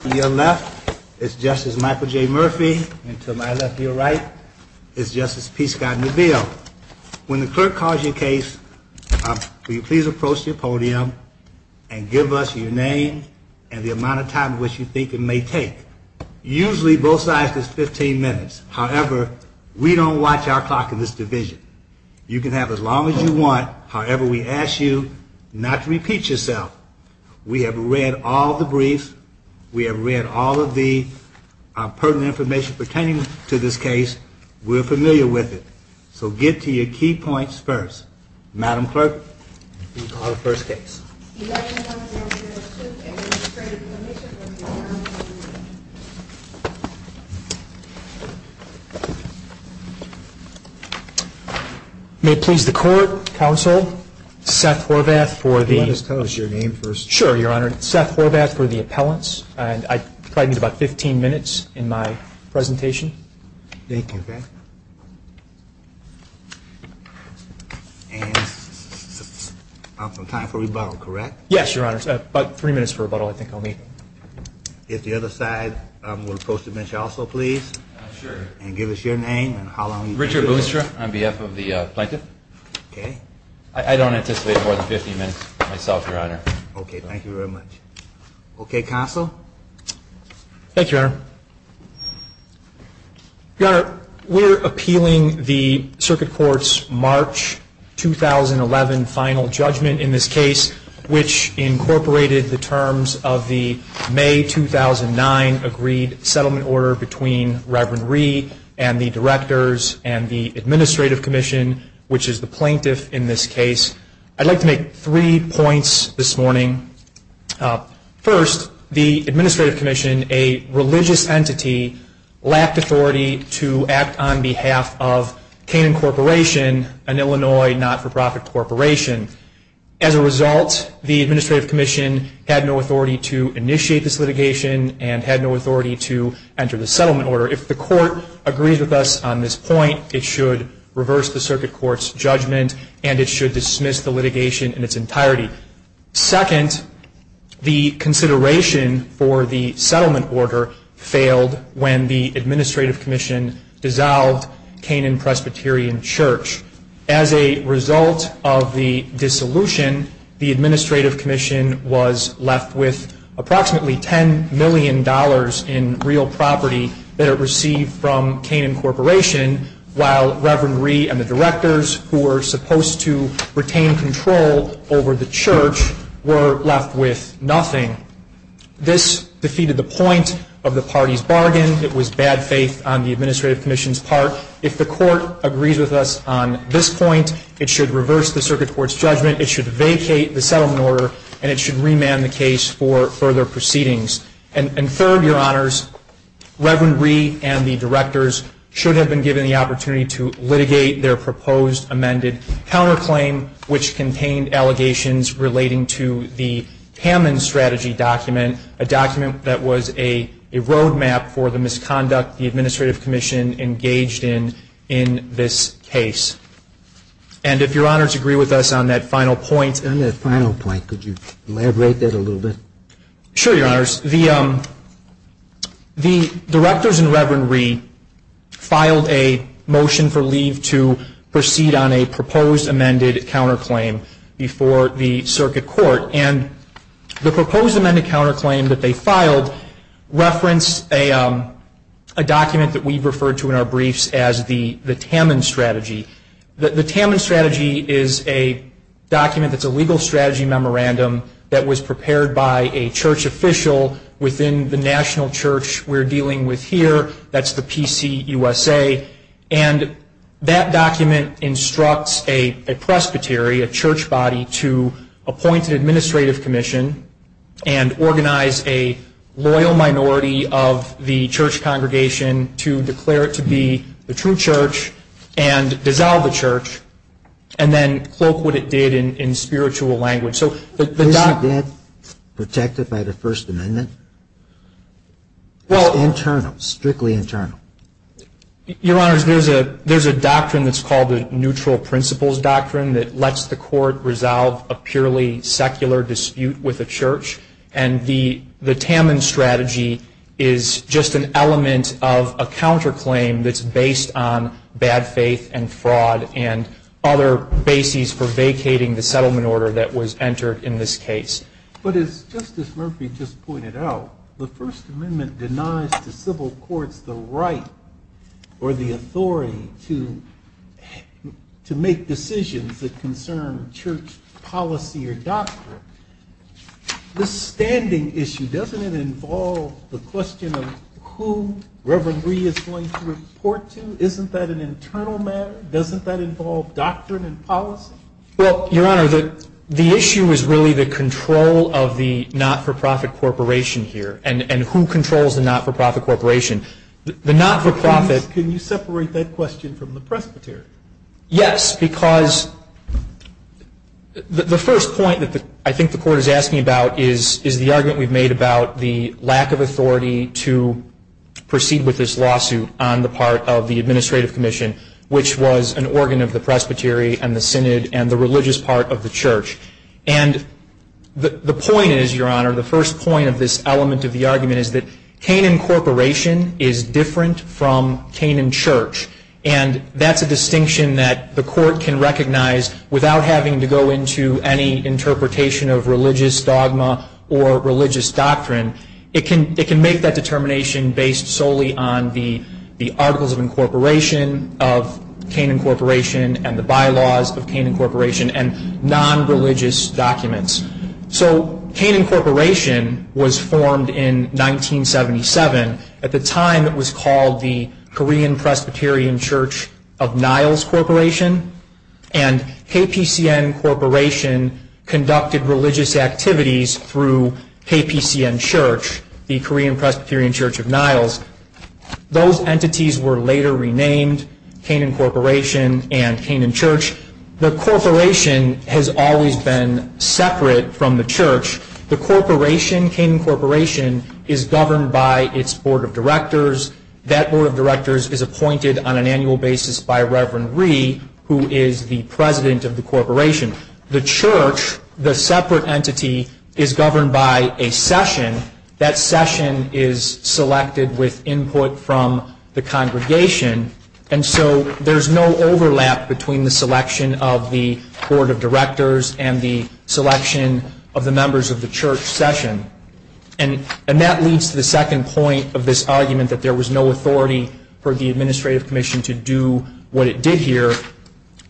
to your left is Justice Michael J. Murphy, and to my left to your right is Justice Pete Scott Neville. When the clerk calls your case, will you please approach your podium and give us your name and the amount of time in which you think it may take. Usually both sides is 15 minutes. However, we don't watch our clock in this division. You can have as long as you want. However, we ask you not to repeat yourself. We have read all the briefs. We have read all of the pertinent information pertaining to this case. We're familiar with it. So get to your key points first. Madam Clerk, we'll call the first case. May it please the Court, Counsel, Seth Horvath for the. Let us tell us your name first. Sure, Your Honor. Seth Horvath for the appellants, and I have some time for rebuttal, correct? Yes, Your Honor. About three minutes for rebuttal, I think, I'll need. If the other side will post a mention also, please. Sure. And give us your name and how long. Richard Boonstra on behalf of the plaintiff. Okay. I don't anticipate more than 15 minutes myself, Your Honor. Okay, thank you very much. Okay, Counsel. Thank you, Your Honor. Your Honor, we're appealing the Circuit Court's March 2011 final judgment in this case, which incorporated the terms of the May 2009 agreed settlement order between Reverend Rhee and the directors and the administrative commission, which is the plaintiff in this case. I'd like to make three points this morning. First, the administrative commission, a religious entity, lacked authority to act on behalf of Canaan Corporation, an Illinois not-for-profit corporation. As a result, the administrative commission had no authority to initiate this litigation and had no authority to enter the settlement order. If the court agrees with us on this point, it should reverse the Circuit Court's judgment and it should dismiss the litigation in its entirety. Second, the consideration for the settlement order failed when the administrative commission dissolved Canaan Presbyterian Church. As a result of the dissolution, the administrative commission was received from Canaan Corporation, while Reverend Rhee and the directors, who were supposed to retain control over the church, were left with nothing. This defeated the point of the party's bargain. It was bad faith on the administrative commission's part. If the court agrees with us on this point, it should reverse the Circuit Court's judgment, it should remand the case for further proceedings. And third, Your Honors, Reverend Rhee and the directors should have been given the opportunity to litigate their proposed amended counterclaim, which contained allegations relating to the Hammond Strategy document, a document that was a roadmap for the misconduct the administrative commission engaged in in this case. And if Your Honors agree with us on that final point. On that final point, could you elaborate that a little bit? Sure, Your Honors. The directors and Reverend Rhee filed a motion for leave to proceed on a proposed amended counterclaim before the Circuit Court. And the proposed amendment that we referred to in our briefs as the Hammond Strategy. The Hammond Strategy is a document that's a legal strategy memorandum that was prepared by a church official within the national church we're dealing with here, that's the PCUSA. And that document instructs a presbytery, a church body, to appoint an administrative commission and organize a loyal minority of the church congregation to declare it to be the true church and dissolve the church, and then cloak what it did in spiritual language. Was it protected by the First Amendment? Well, Strictly internal. Your Honors, there's a doctrine that's called the Neutral Principles Doctrine that lets the court resolve a purely secular dispute with the church. And the Hammond Strategy is just an element of a counterclaim that's based on bad faith and fraud and other bases for vacating the settlement order that was entered in this case. But as Justice Murphy just pointed out, the First Amendment denies the civil courts the right or the authority to make decisions that concern church policy or doctrine. This standing issue, doesn't it involve the question of who Reverend Reed is going to report to? Isn't that an internal matter? Doesn't that involve doctrine and policy? Well, Your Honor, the issue is really the control of the not-for-profit corporation here and who controls the not-for-profit corporation. The not-for-profit Can you separate that question from the presbytery? Yes, because the first point that I think the court is asking about is the argument we've made about the lack of authority to proceed with this lawsuit on the part of the Administrative Commission, which was an organ of the presbytery and the synod and the religious part of the church. And the point is, Your Honor, the first point of this element of the argument is that Canaan Corporation is different from Canaan Church. And that's a distinction that the court can recognize without having to go into any interpretation of religious dogma or religious doctrine. It can make that determination based solely on the articles of incorporation of Canaan Corporation and the bylaws of Canaan Corporation and non-religious documents. So Canaan Corporation was formed in 1977. At the time, it was called the Korean Presbyterian Church of Niles Corporation. And KPCN Corporation conducted religious activities through KPCN Church, the Korean Presbyterian Church of Niles. Those entities were later renamed Canaan Corporation and Canaan Church. The corporation has always been separate from the church. The corporation, Canaan Corporation, is governed by its board of directors. That board of directors is appointed on an annual basis by Reverend Ree, who is the president of the corporation. The church, the separate entity, is governed by a session. That session is selected with input from the congregation. And so there's no overlap between the selection of the board of directors and the selection of the members of the church session. And that leads to the second point of this argument that there was no authority for the administrative commission to do what it did here.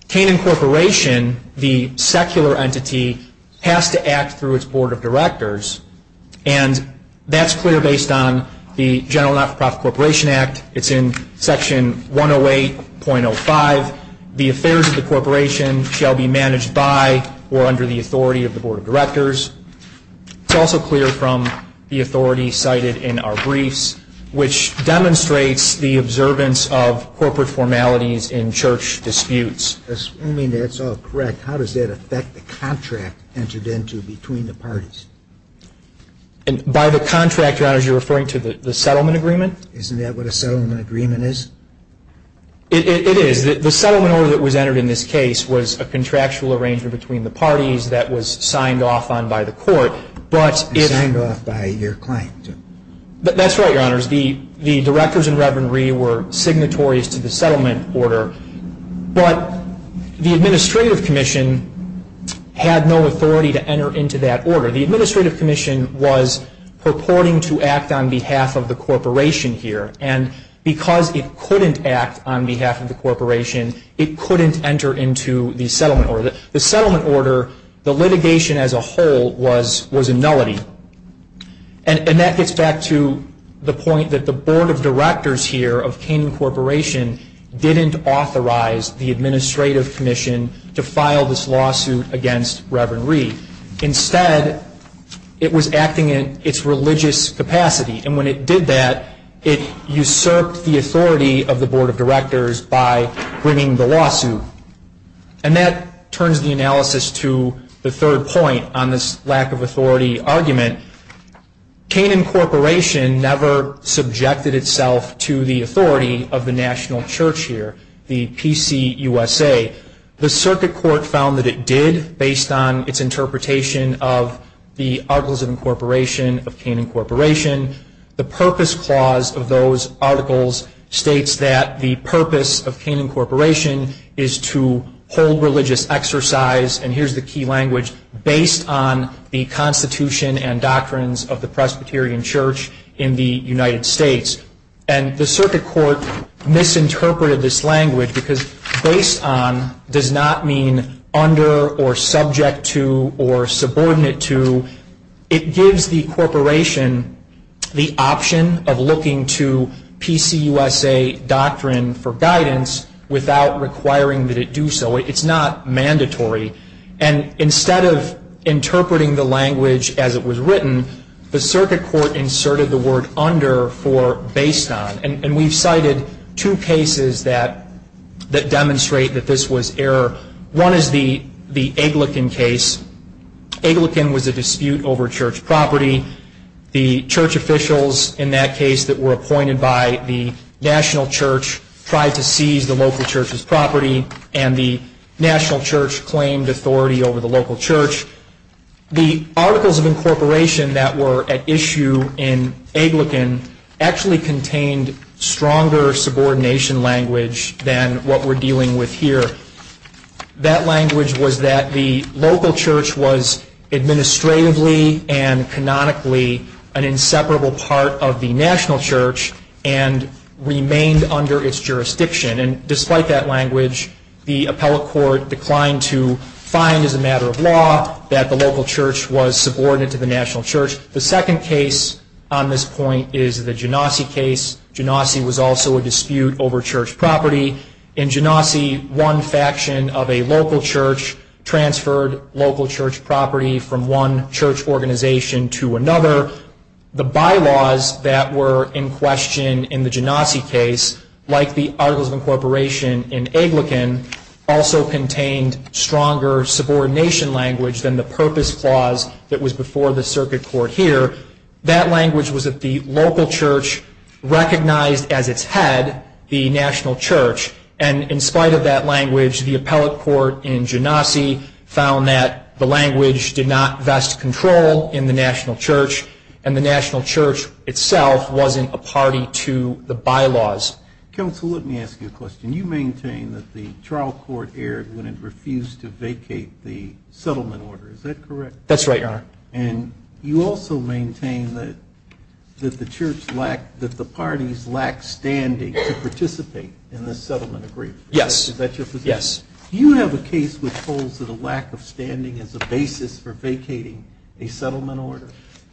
Canaan Corporation, the secular entity, has to act through its board of directors. And that's clear based on the General Not-for-Profit Corporation Act. It's in Section 108.05. The affairs of the corporation shall be managed by or under the authority of the board of directors. It's also clear from the authority cited in our briefs, which demonstrates the observance of corporate formalities in church disputes. Assuming that's all correct, how does that affect the contract entered into between the parties? By the contract, Your Honor, you're referring to the settlement agreement? Isn't that what a settlement agreement is? It is. The settlement order that was entered in this case was a contractual arrangement between the parties that was signed off on by the court. Signed off by your client. That's right, Your Honors. The directors and Reverend Reed were signatories to the settlement order. But the administrative commission had no authority to enter into that order. The administrative commission was purporting to act on behalf of the corporation here. And because it couldn't act on behalf of the corporation, it couldn't enter into the settlement order. The settlement order, the litigation as a whole, was a nullity. And that gets back to the point that the board of directors here of Canaan Corporation didn't authorize the administrative commission to file this lawsuit against Reverend Reed. Instead, it was acting in its religious capacity. And when it did that, it usurped the authority of the board of directors by bringing the lawsuit. And that turns the analysis to the third point on this lack of authority argument. Canaan Corporation never subjected itself to the authority of the national church here, the PCUSA. The circuit court found that it did, based on its interpretation of the Articles of Incorporation of Canaan Corporation. The purpose clause of those articles states that the purpose of Canaan Corporation is to hold religious exercise, and here's the key language, based on the constitution and doctrines of the Presbyterian Church in the United States. And the circuit court misinterpreted this language because based on does not mean under or subject to or subordinate to. It gives the corporation the option of looking to PCUSA doctrine for guidance without requiring that it do so. It's not mandatory. And instead of interpreting the language as it was written, the circuit court inserted the word under for based on. And we've cited two cases that demonstrate that this was error. One is the Aglican case. Aglican was a dispute over church property. The church officials in that case that were appointed by the national church tried to seize the local church's property, and the national church claimed authority over the local church. The Articles of Incorporation that were at issue in Aglican actually contained stronger subordination language than what we're dealing with here. That language was that the local church was administratively and canonically an inseparable part of the national church and remained under its jurisdiction. And despite that language, the appellate court declined to find as a matter of law that the local church was subordinate to the national church. The second case on this point is the Genasi case. Genasi was also a dispute over church property. In Genasi, one faction of a local church transferred local church property from one church organization to another. The bylaws that were in question in the Genasi case, like the Articles of Incorporation in Aglican, also contained stronger subordination language than the purpose clause that was before the circuit court here. That language was that the local church recognized as its head the national church. And in spite of that language, the appellate court in Genasi found that the language did not vest control in the national church and the national church itself wasn't a party to the bylaws. Counsel, let me ask you a question. You maintain that the trial court erred when it refused to vacate the settlement order. That's right, Your Honor. And you also maintain that the church lacked, that the parties lacked standing to participate in the settlement agreement. Yes. Is that your position? Yes. Do you have a case which holds that a lack of standing is a basis for vacating a settlement order?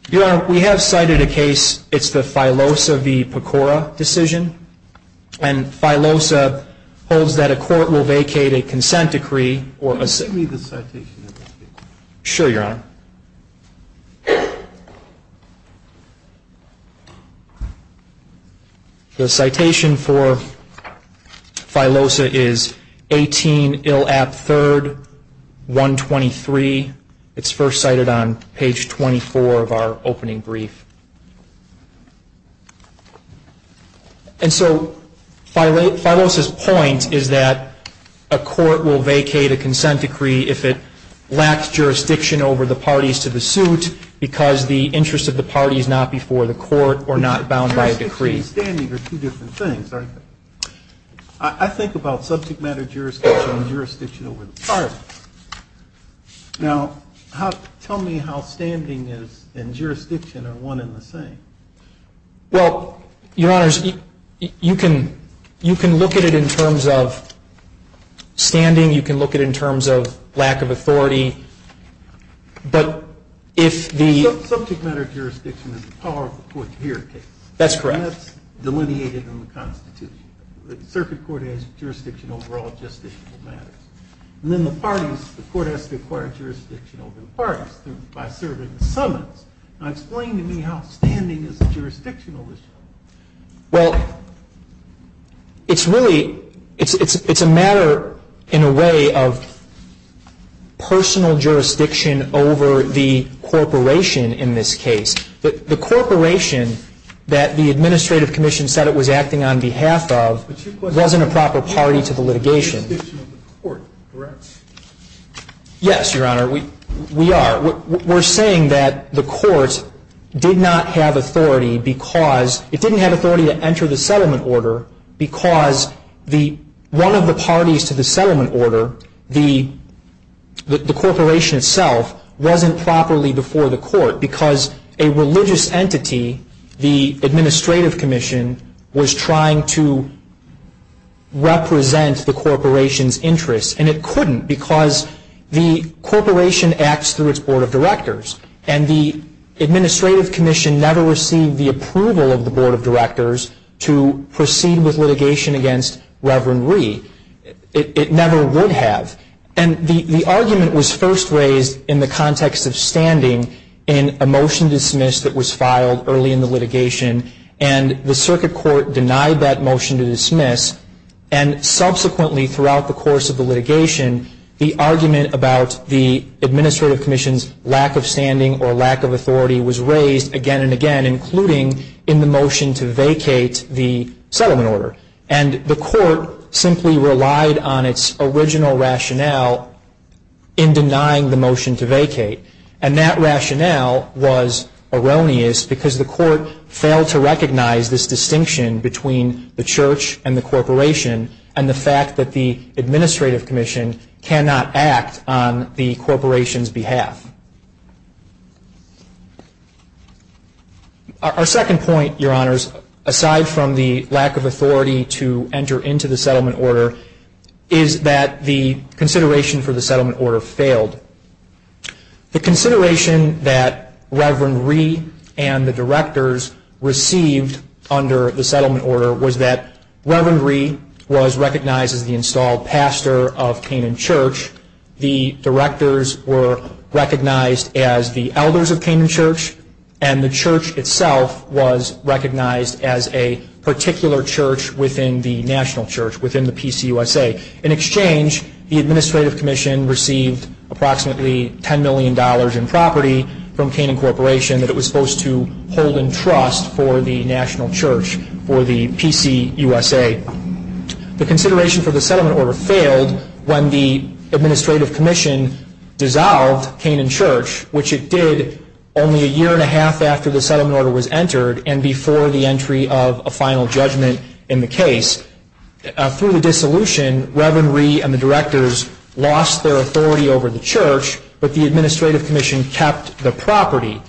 Your Honor, we have cited a case, it's the Filosa v. Pecora decision. And Filosa holds that a court will vacate a consent decree or a... Can you give me the citation of that case? Sure, Your Honor. The citation for Filosa is 18 Ill App 3rd, 123. It's first cited on page 24 of our opening brief. And so Filosa's point is that a court will vacate a consent decree if it lacks jurisdiction over the parties to the suit because the interest of the party is not before the court or not bound by a decree. Jurisdiction and standing are two different things, aren't they? I think about subject matter jurisdiction and jurisdiction over the party. Now, tell me how standing and jurisdiction are one and the same. Well, Your Honor, you can look at it in terms of standing, you can look at it in terms of lack of authority, but if the... Subject matter jurisdiction is the power of the court to hear a case. That's correct. And that's delineated in the Constitution. Circuit court has jurisdiction over all justiciable matters. And then the parties, the court has to acquire jurisdiction over the parties by serving the summons. Now, explain to me how standing is a jurisdictional issue. Well, it's really, it's a matter in a way of personal jurisdiction over the corporation in this case. The corporation that the administrative commission said it was acting on behalf of wasn't a proper party to the litigation. It's a jurisdiction of the court, correct? Yes, Your Honor, we are. We're saying that the court did not have authority because it didn't have authority to enter the settlement order because one of the parties to the settlement order, the corporation itself, wasn't properly before the court because a religious entity, the administrative commission, was trying to represent the corporation's interests. And it couldn't because the corporation acts through its board of directors. And the administrative commission never received the approval of the board of directors to proceed with litigation against Reverend Ree. It never would have. And the argument was first raised in the context of standing in a motion dismissed that was filed early in the litigation. And the circuit court denied that motion to dismiss. And subsequently throughout the course of the litigation, the argument about the administrative commission's lack of standing or lack of authority was raised again and again, including in the motion to vacate the settlement order. And the court simply relied on its original rationale in denying the motion to vacate. And that rationale was erroneous because the court failed to recognize this distinction between the church and the corporation and the fact that the administrative commission cannot act on the corporation's behalf. Our second point, Your Honors, aside from the lack of authority to enter into the settlement order, is that the consideration for the settlement order failed. The consideration that Reverend Ree and the directors received under the settlement order was that Reverend Ree was recognized as the installed pastor of Canaan Church. The directors were recognized as the elders of Canaan Church. And the church itself was recognized as a particular church within the national church, within the PCUSA. In exchange, the administrative commission received approximately $10 million in property from Canaan Corporation that it was supposed to hold in trust for the national church, for the PCUSA. The consideration for the settlement order failed when the administrative commission dissolved Canaan Church, which it did only a year and a half after the settlement order was entered and before the entry of a final judgment in the case. Through the dissolution, Reverend Ree and the directors lost their authority over the church, but the administrative commission kept the property.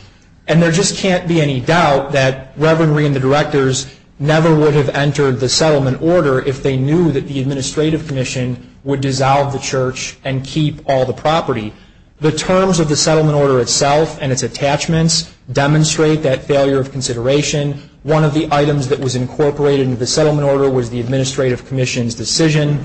And there just can't be any doubt that Reverend Ree and the directors never would have entered the settlement order if they knew that the administrative commission would dissolve the church and keep all the property. The terms of the settlement order itself and its attachments demonstrate that failure of consideration. One of the items that was incorporated into the settlement order was the administrative commission's decision.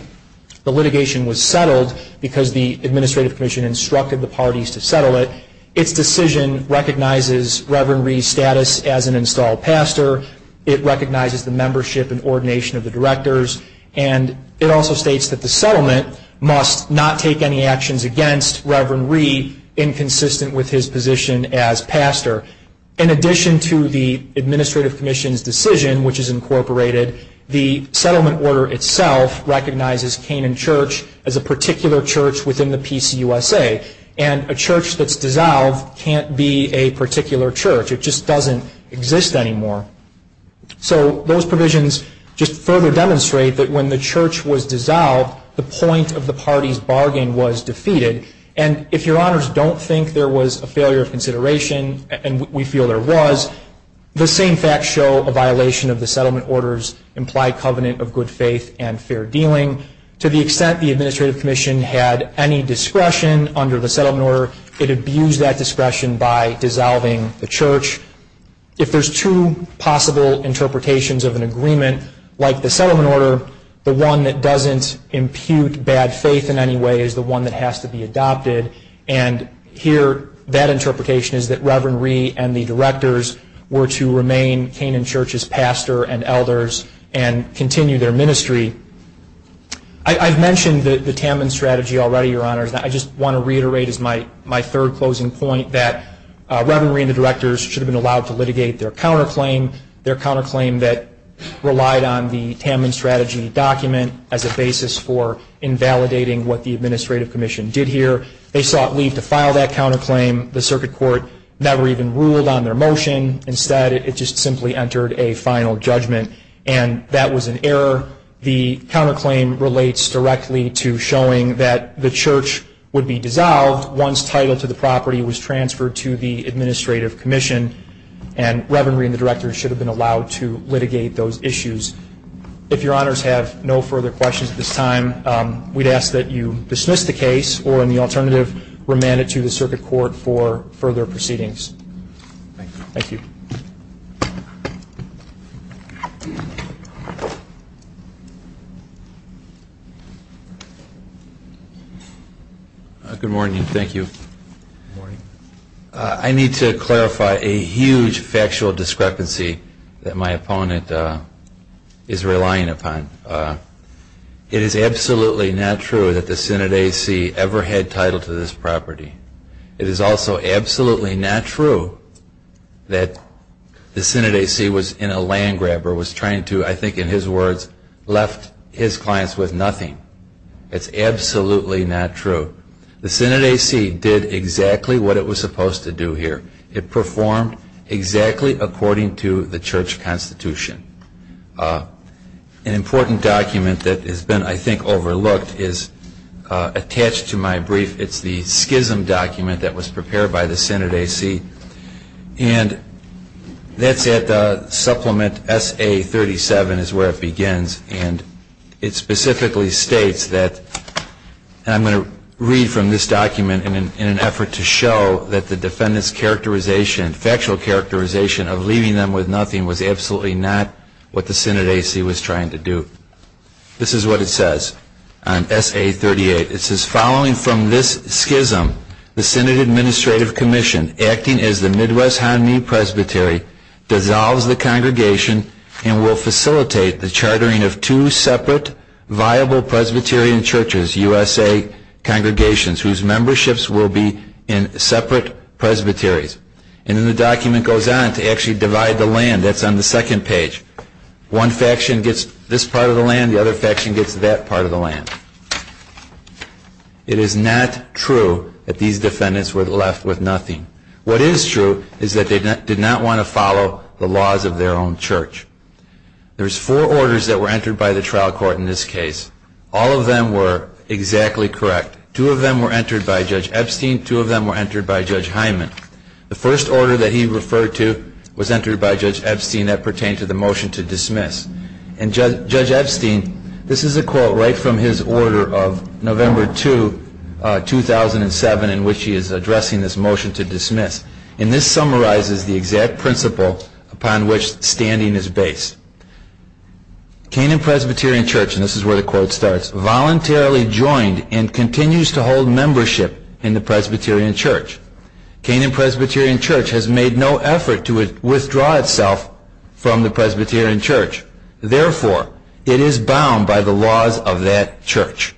The litigation was settled because the administrative commission instructed the parties to settle it. Its decision recognizes Reverend Ree's status as an installed pastor. It recognizes the membership and ordination of the directors. And it also states that the settlement must not take any actions against Reverend Ree inconsistent with his position as pastor. In addition to the administrative commission's decision, which is incorporated, the settlement order itself recognizes Canaan Church as a particular church within the PCUSA. And a church that's dissolved can't be a particular church. It just doesn't exist anymore. So those provisions just further demonstrate that when the church was dissolved, the point of the party's bargain was defeated. And if your honors don't think there was a failure of consideration, and we feel there was, the same facts show a violation of the settlement order's implied covenant of good faith and fair dealing. To the extent the administrative commission had any discretion under the settlement order, it abused that discretion by dissolving the church. If there's two possible interpretations of an agreement, like the settlement order, the one that doesn't impute bad faith in any way is the one that has to be adopted. And here that interpretation is that Reverend Ree and the directors were to remain Canaan Church's pastor and elders and continue their ministry. I've mentioned the Tamman strategy already, your honors. I just want to reiterate as my third closing point that Reverend Ree and the directors should have been allowed to litigate their counterclaim, their counterclaim that relied on the Tamman strategy document as a basis for invalidating what the administrative commission did here. They sought leave to file that counterclaim. The circuit court never even ruled on their motion. Instead, it just simply entered a final judgment, and that was an error. However, the counterclaim relates directly to showing that the church would be dissolved once title to the property was transferred to the administrative commission, and Reverend Ree and the directors should have been allowed to litigate those issues. If your honors have no further questions at this time, we'd ask that you dismiss the case or, in the alternative, remand it to the circuit court for further proceedings. Thank you. Good morning. Thank you. I need to clarify a huge factual discrepancy that my opponent is relying upon. It is absolutely not true that the Synod AC ever had title to this property. It is also absolutely not true that the Synod AC was in a land grabber, was trying to, I think in his words, left his clients with nothing. It's absolutely not true. The Synod AC did exactly what it was supposed to do here. It performed exactly according to the church constitution. An important document that has been, I think, overlooked is attached to my brief. It's the schism document that was prepared by the Synod AC, and that's at the supplement SA-37 is where it begins, and it specifically states that, and I'm going to read from this document in an effort to show that the defendant's characterization, factual characterization, of leaving them with nothing was absolutely not what the Synod AC was trying to do. This is what it says on SA-38. It says, following from this schism, the Synod Administrative Commission, acting as the Midwest Hanmi Presbytery, dissolves the congregation and will facilitate the chartering of two separate viable Presbyterian churches, USA congregations, whose memberships will be in separate presbyteries. And then the document goes on to actually divide the land. That's on the second page. One faction gets this part of the land. The other faction gets that part of the land. It is not true that these defendants were left with nothing. What is true is that they did not want to follow the laws of their own church. There's four orders that were entered by the trial court in this case. All of them were exactly correct. Two of them were entered by Judge Epstein. Two of them were entered by Judge Hyman. The first order that he referred to was entered by Judge Epstein. That pertained to the motion to dismiss. And Judge Epstein, this is a quote right from his order of November 2, 2007, in which he is addressing this motion to dismiss. And this summarizes the exact principle upon which standing is based. Canaan Presbyterian Church, and this is where the quote starts, voluntarily joined and continues to hold membership in the Presbyterian Church. Canaan Presbyterian Church has made no effort to withdraw itself from the Presbyterian Church. Therefore, it is bound by the laws of that church.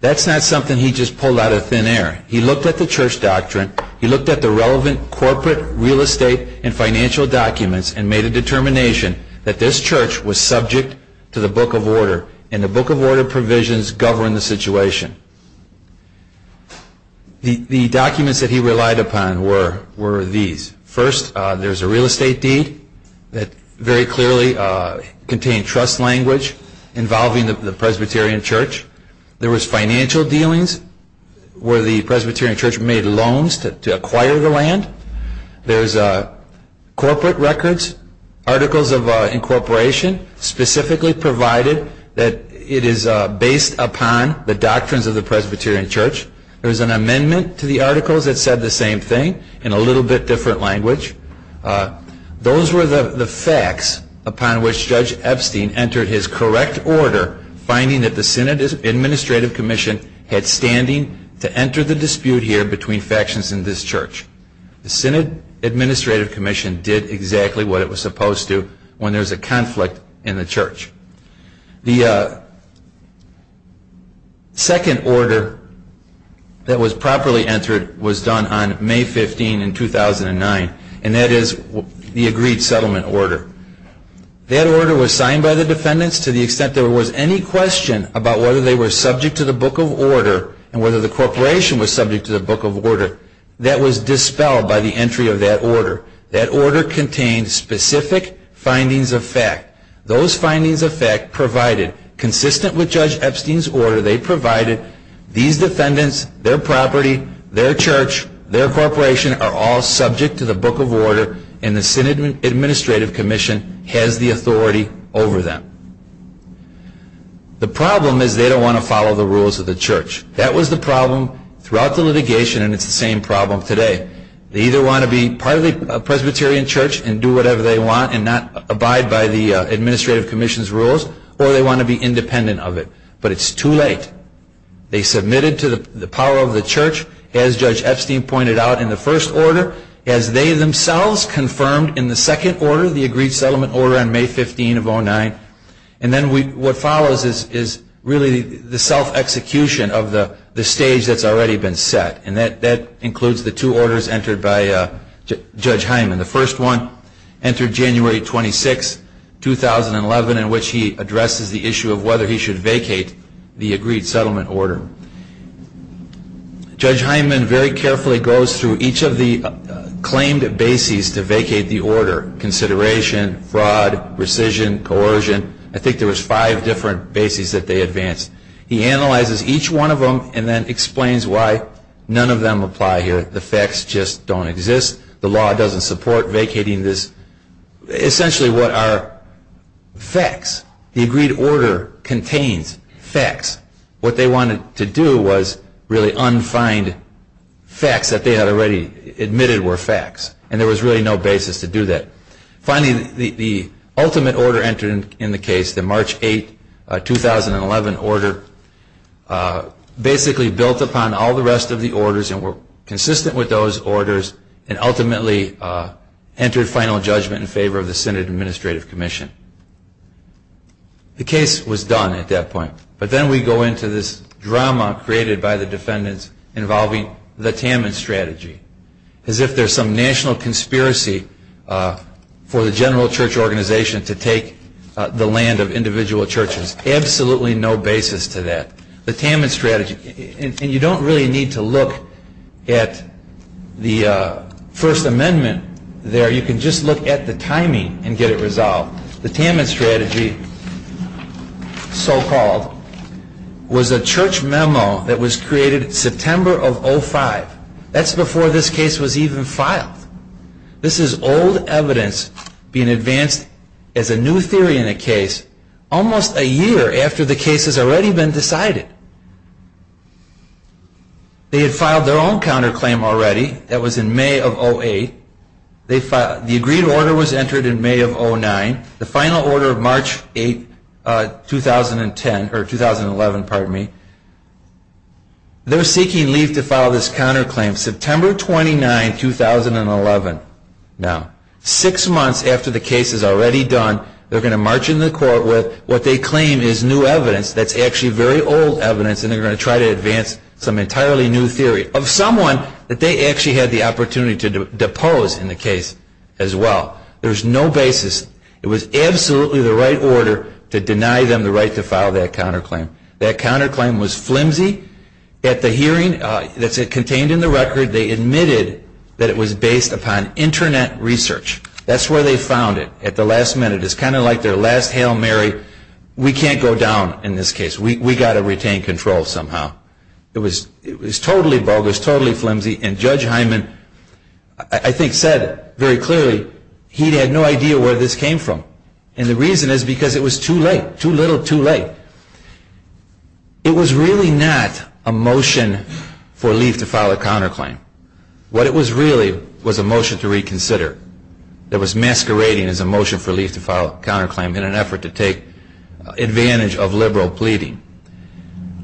That's not something he just pulled out of thin air. He looked at the church doctrine. He looked at the relevant corporate, real estate, and financial documents and made a determination that this church was subject to the Book of Order, and the Book of Order provisions govern the situation. The documents that he relied upon were these. First, there's a real estate deed that very clearly contained trust language involving the Presbyterian Church. There was financial dealings where the Presbyterian Church made loans to acquire the land. There's corporate records, articles of incorporation, specifically provided that it is based upon the doctrines of the Presbyterian Church. There was an amendment to the articles that said the same thing in a little bit different language. Those were the facts upon which Judge Epstein entered his correct order, finding that the Synod Administrative Commission had standing to enter the dispute here between factions in this church. The Synod Administrative Commission did exactly what it was supposed to when there's a conflict in the church. The second order that was properly entered was done on May 15, 2009, and that is the Agreed Settlement Order. That order was signed by the defendants to the extent there was any question about whether they were subject to the Book of Order and whether the corporation was subject to the Book of Order. That was dispelled by the entry of that order. That order contained specific findings of fact. Those findings of fact provided, consistent with Judge Epstein's order, they provided these defendants, their property, their church, their corporation, are all subject to the Book of Order, and the Synod Administrative Commission has the authority over them. The problem is they don't want to follow the rules of the church. That was the problem throughout the litigation, and it's the same problem today. They either want to be part of the Presbyterian Church and do whatever they want and not abide by the Administrative Commission's rules, or they want to be independent of it. But it's too late. They submitted to the power of the church, as Judge Epstein pointed out in the first order, as they themselves confirmed in the second order, the Agreed Settlement Order on May 15, 2009. And then what follows is really the self-execution of the stage that's already been set, and that includes the two orders entered by Judge Hyman. The first one entered January 26, 2011, in which he addresses the issue of whether he should vacate the Agreed Settlement Order. Judge Hyman very carefully goes through each of the claimed bases to vacate the order, consideration, fraud, rescission, coercion. I think there was five different bases that they advanced. He analyzes each one of them and then explains why none of them apply here. The facts just don't exist. The law doesn't support vacating this. Essentially, what are facts? The Agreed Order contains facts. What they wanted to do was really un-find facts that they had already admitted were facts, and there was really no basis to do that. Finally, the ultimate order entered in the case, the March 8, 2011 order, basically built upon all the rest of the orders and were consistent with those orders and ultimately entered final judgment in favor of the Senate Administrative Commission. The case was done at that point, but then we go into this drama created by the defendants involving the Tammons strategy, as if there's some national conspiracy for the general church organization to take the land of individual churches. Absolutely no basis to that. The Tammons strategy, and you don't really need to look at the First Amendment there. You can just look at the timing and get it resolved. The Tammons strategy, so-called, was a church memo that was created September of 05. That's before this case was even filed. This is old evidence being advanced as a new theory in a case almost a year after the case has already been decided. They had filed their own counterclaim already. That was in May of 08. The Agreed Order was entered in May of 09. The final order of March 8, 2011, they're seeking leave to file this counterclaim September 29, 2011. Six months after the case is already done, they're going to march in the court with what they claim is new evidence that's actually very old evidence, and they're going to try to advance some entirely new theory of someone that they actually had the opportunity to depose in the case as well. There's no basis. It was absolutely the right order to deny them the right to file that counterclaim. That counterclaim was flimsy. At the hearing that's contained in the record, they admitted that it was based upon Internet research. That's where they found it, at the last minute. It's kind of like their last Hail Mary. We can't go down in this case. We've got to retain control somehow. It was totally bogus, totally flimsy, and Judge Hyman, I think, said very clearly he had no idea where this came from. And the reason is because it was too late, too little, too late. It was really not a motion for leave to file a counterclaim. What it was really was a motion to reconsider that was masquerading as a motion for leave to file a counterclaim in an effort to take advantage of liberal pleading.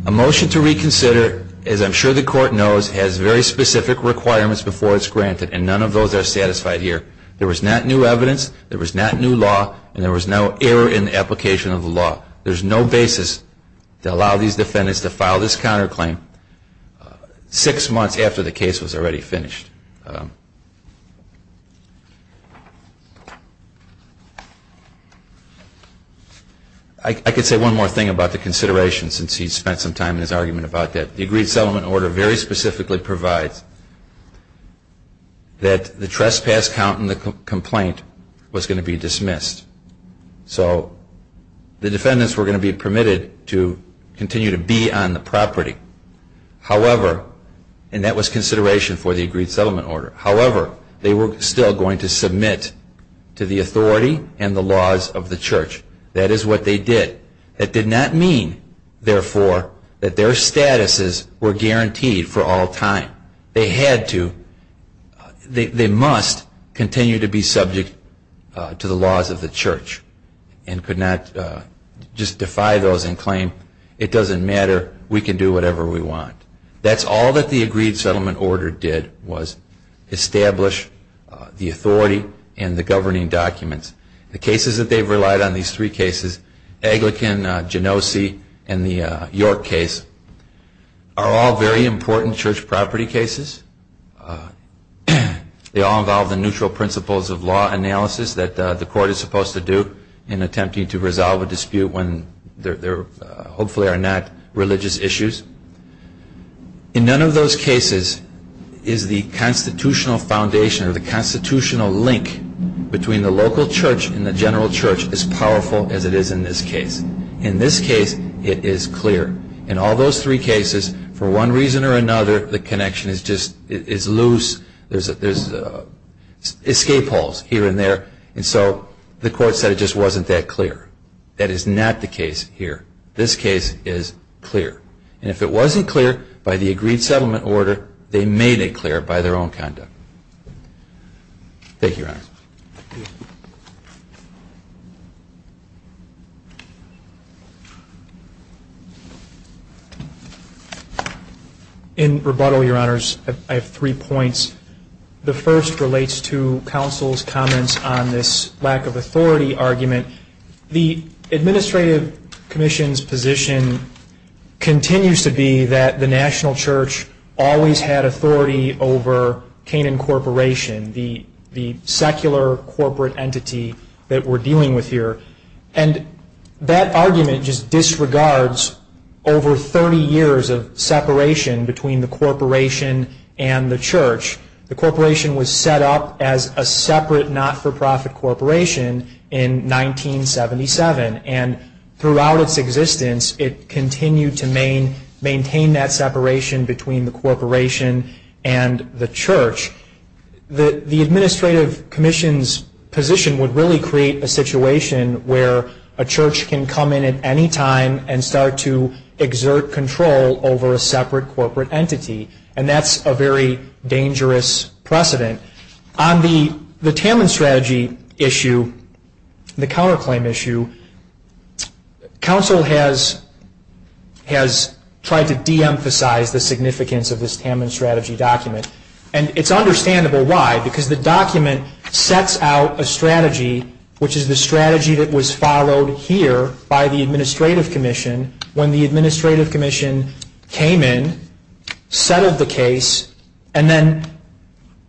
A motion to reconsider, as I'm sure the court knows, has very specific requirements before it's granted, and none of those are satisfied here. There was not new evidence, there was not new law, and there was no error in the application of the law. There's no basis to allow these defendants to file this counterclaim six months after the case was already finished. I could say one more thing about the consideration, since he spent some time in his argument about that. The agreed settlement order very specifically provides that the trespass count in the complaint was going to be dismissed. So the defendants were going to be permitted to continue to be on the property. However, and that was consideration for the agreed settlement order, however, they were still going to submit to the authority and the laws of the church. That is what they did. That did not mean, therefore, that their statuses were guaranteed for all time. They had to. They must continue to be subject to the laws of the church and could not just defy those and claim, it doesn't matter, we can do whatever we want. That's all that the agreed settlement order did, was establish the authority and the governing documents. The cases that they've relied on, these three cases, Aglikin, Genosi, and the York case, are all very important church property cases. They all involve the neutral principles of law analysis that the court is supposed to do in attempting to resolve a dispute when there hopefully are not religious issues. In none of those cases is the constitutional foundation or the constitutional link between the local church and the general church as powerful as it is in this case. In this case, it is clear. In all those three cases, for one reason or another, the connection is loose. There's escape holes here and there. And so the court said it just wasn't that clear. That is not the case here. This case is clear. And if it wasn't clear by the agreed settlement order, they made it clear by their own conduct. Thank you, Your Honor. In rebuttal, Your Honors, I have three points. The first relates to counsel's comments on this lack of authority argument. The administrative commission's position continues to be that the national church always had authority over Canaan Corporation, the secular corporate entity that we're dealing with here. And that argument just disregards over 30 years of separation between the corporation and the church. The corporation was set up as a separate not-for-profit corporation in 1977. And throughout its existence, it continued to maintain that separation between the corporation and the church. The administrative commission's position would really create a situation where a church can come in at any time and start to exert control over a separate corporate entity. And that's a very dangerous precedent. On the Tamman strategy issue, the counterclaim issue, counsel has tried to de-emphasize the significance of this Tamman strategy document. And it's understandable why, because the document sets out a strategy, which is the strategy that was followed here by the administrative commission when the administrative commission came in, settled the case, and then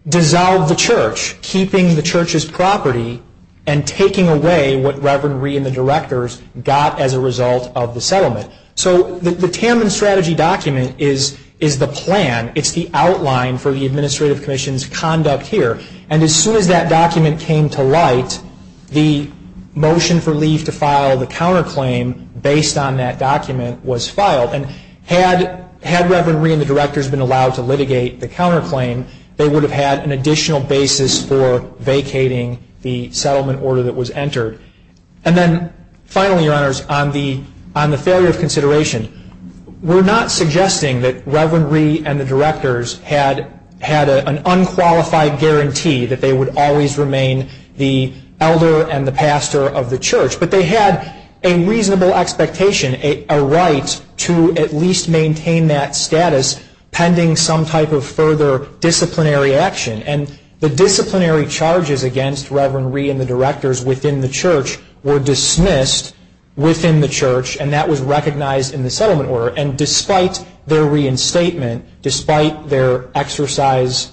dissolved the church, keeping the church's property and taking away what Reverend Reed and the directors got as a result of the settlement. So the Tamman strategy document is the plan. It's the outline for the administrative commission's conduct here. And as soon as that document came to light, the motion for leave to file the counterclaim based on that document was filed. And had Reverend Reed and the directors been allowed to litigate the counterclaim, they would have had an additional basis for vacating the settlement order that was entered. And then finally, Your Honors, on the failure of consideration, we're not suggesting that Reverend Reed and the directors had an unqualified guarantee that they would always remain the elder and the pastor of the church, but they had a reasonable expectation, a right to at least maintain that status, pending some type of further disciplinary action. And the disciplinary charges against Reverend Reed and the directors within the church were dismissed within the church, and that was recognized in the settlement order. And despite their reinstatement, despite their exercise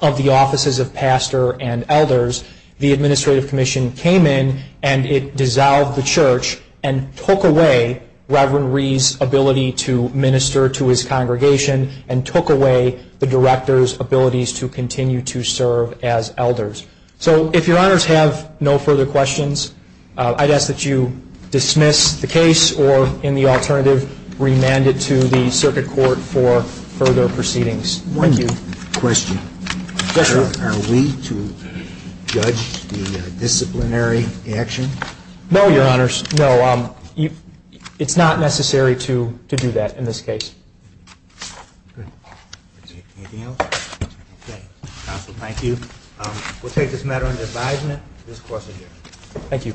of the offices of pastor and elders, the administrative commission came in and it dissolved the church and took away Reverend Reed's ability to minister to his congregation and took away the directors' abilities to continue to serve as elders. So if Your Honors have no further questions, I'd ask that you dismiss the case or, in the alternative, remand it to the circuit court for further proceedings. Thank you. Question. Yes, sir. Are we to judge the disciplinary action? No, Your Honors, no. It's not necessary to do that in this case. Good. Anything else? Okay. Counsel, thank you. We'll take this matter into advisement. This court is adjourned. Thank you. Thank you.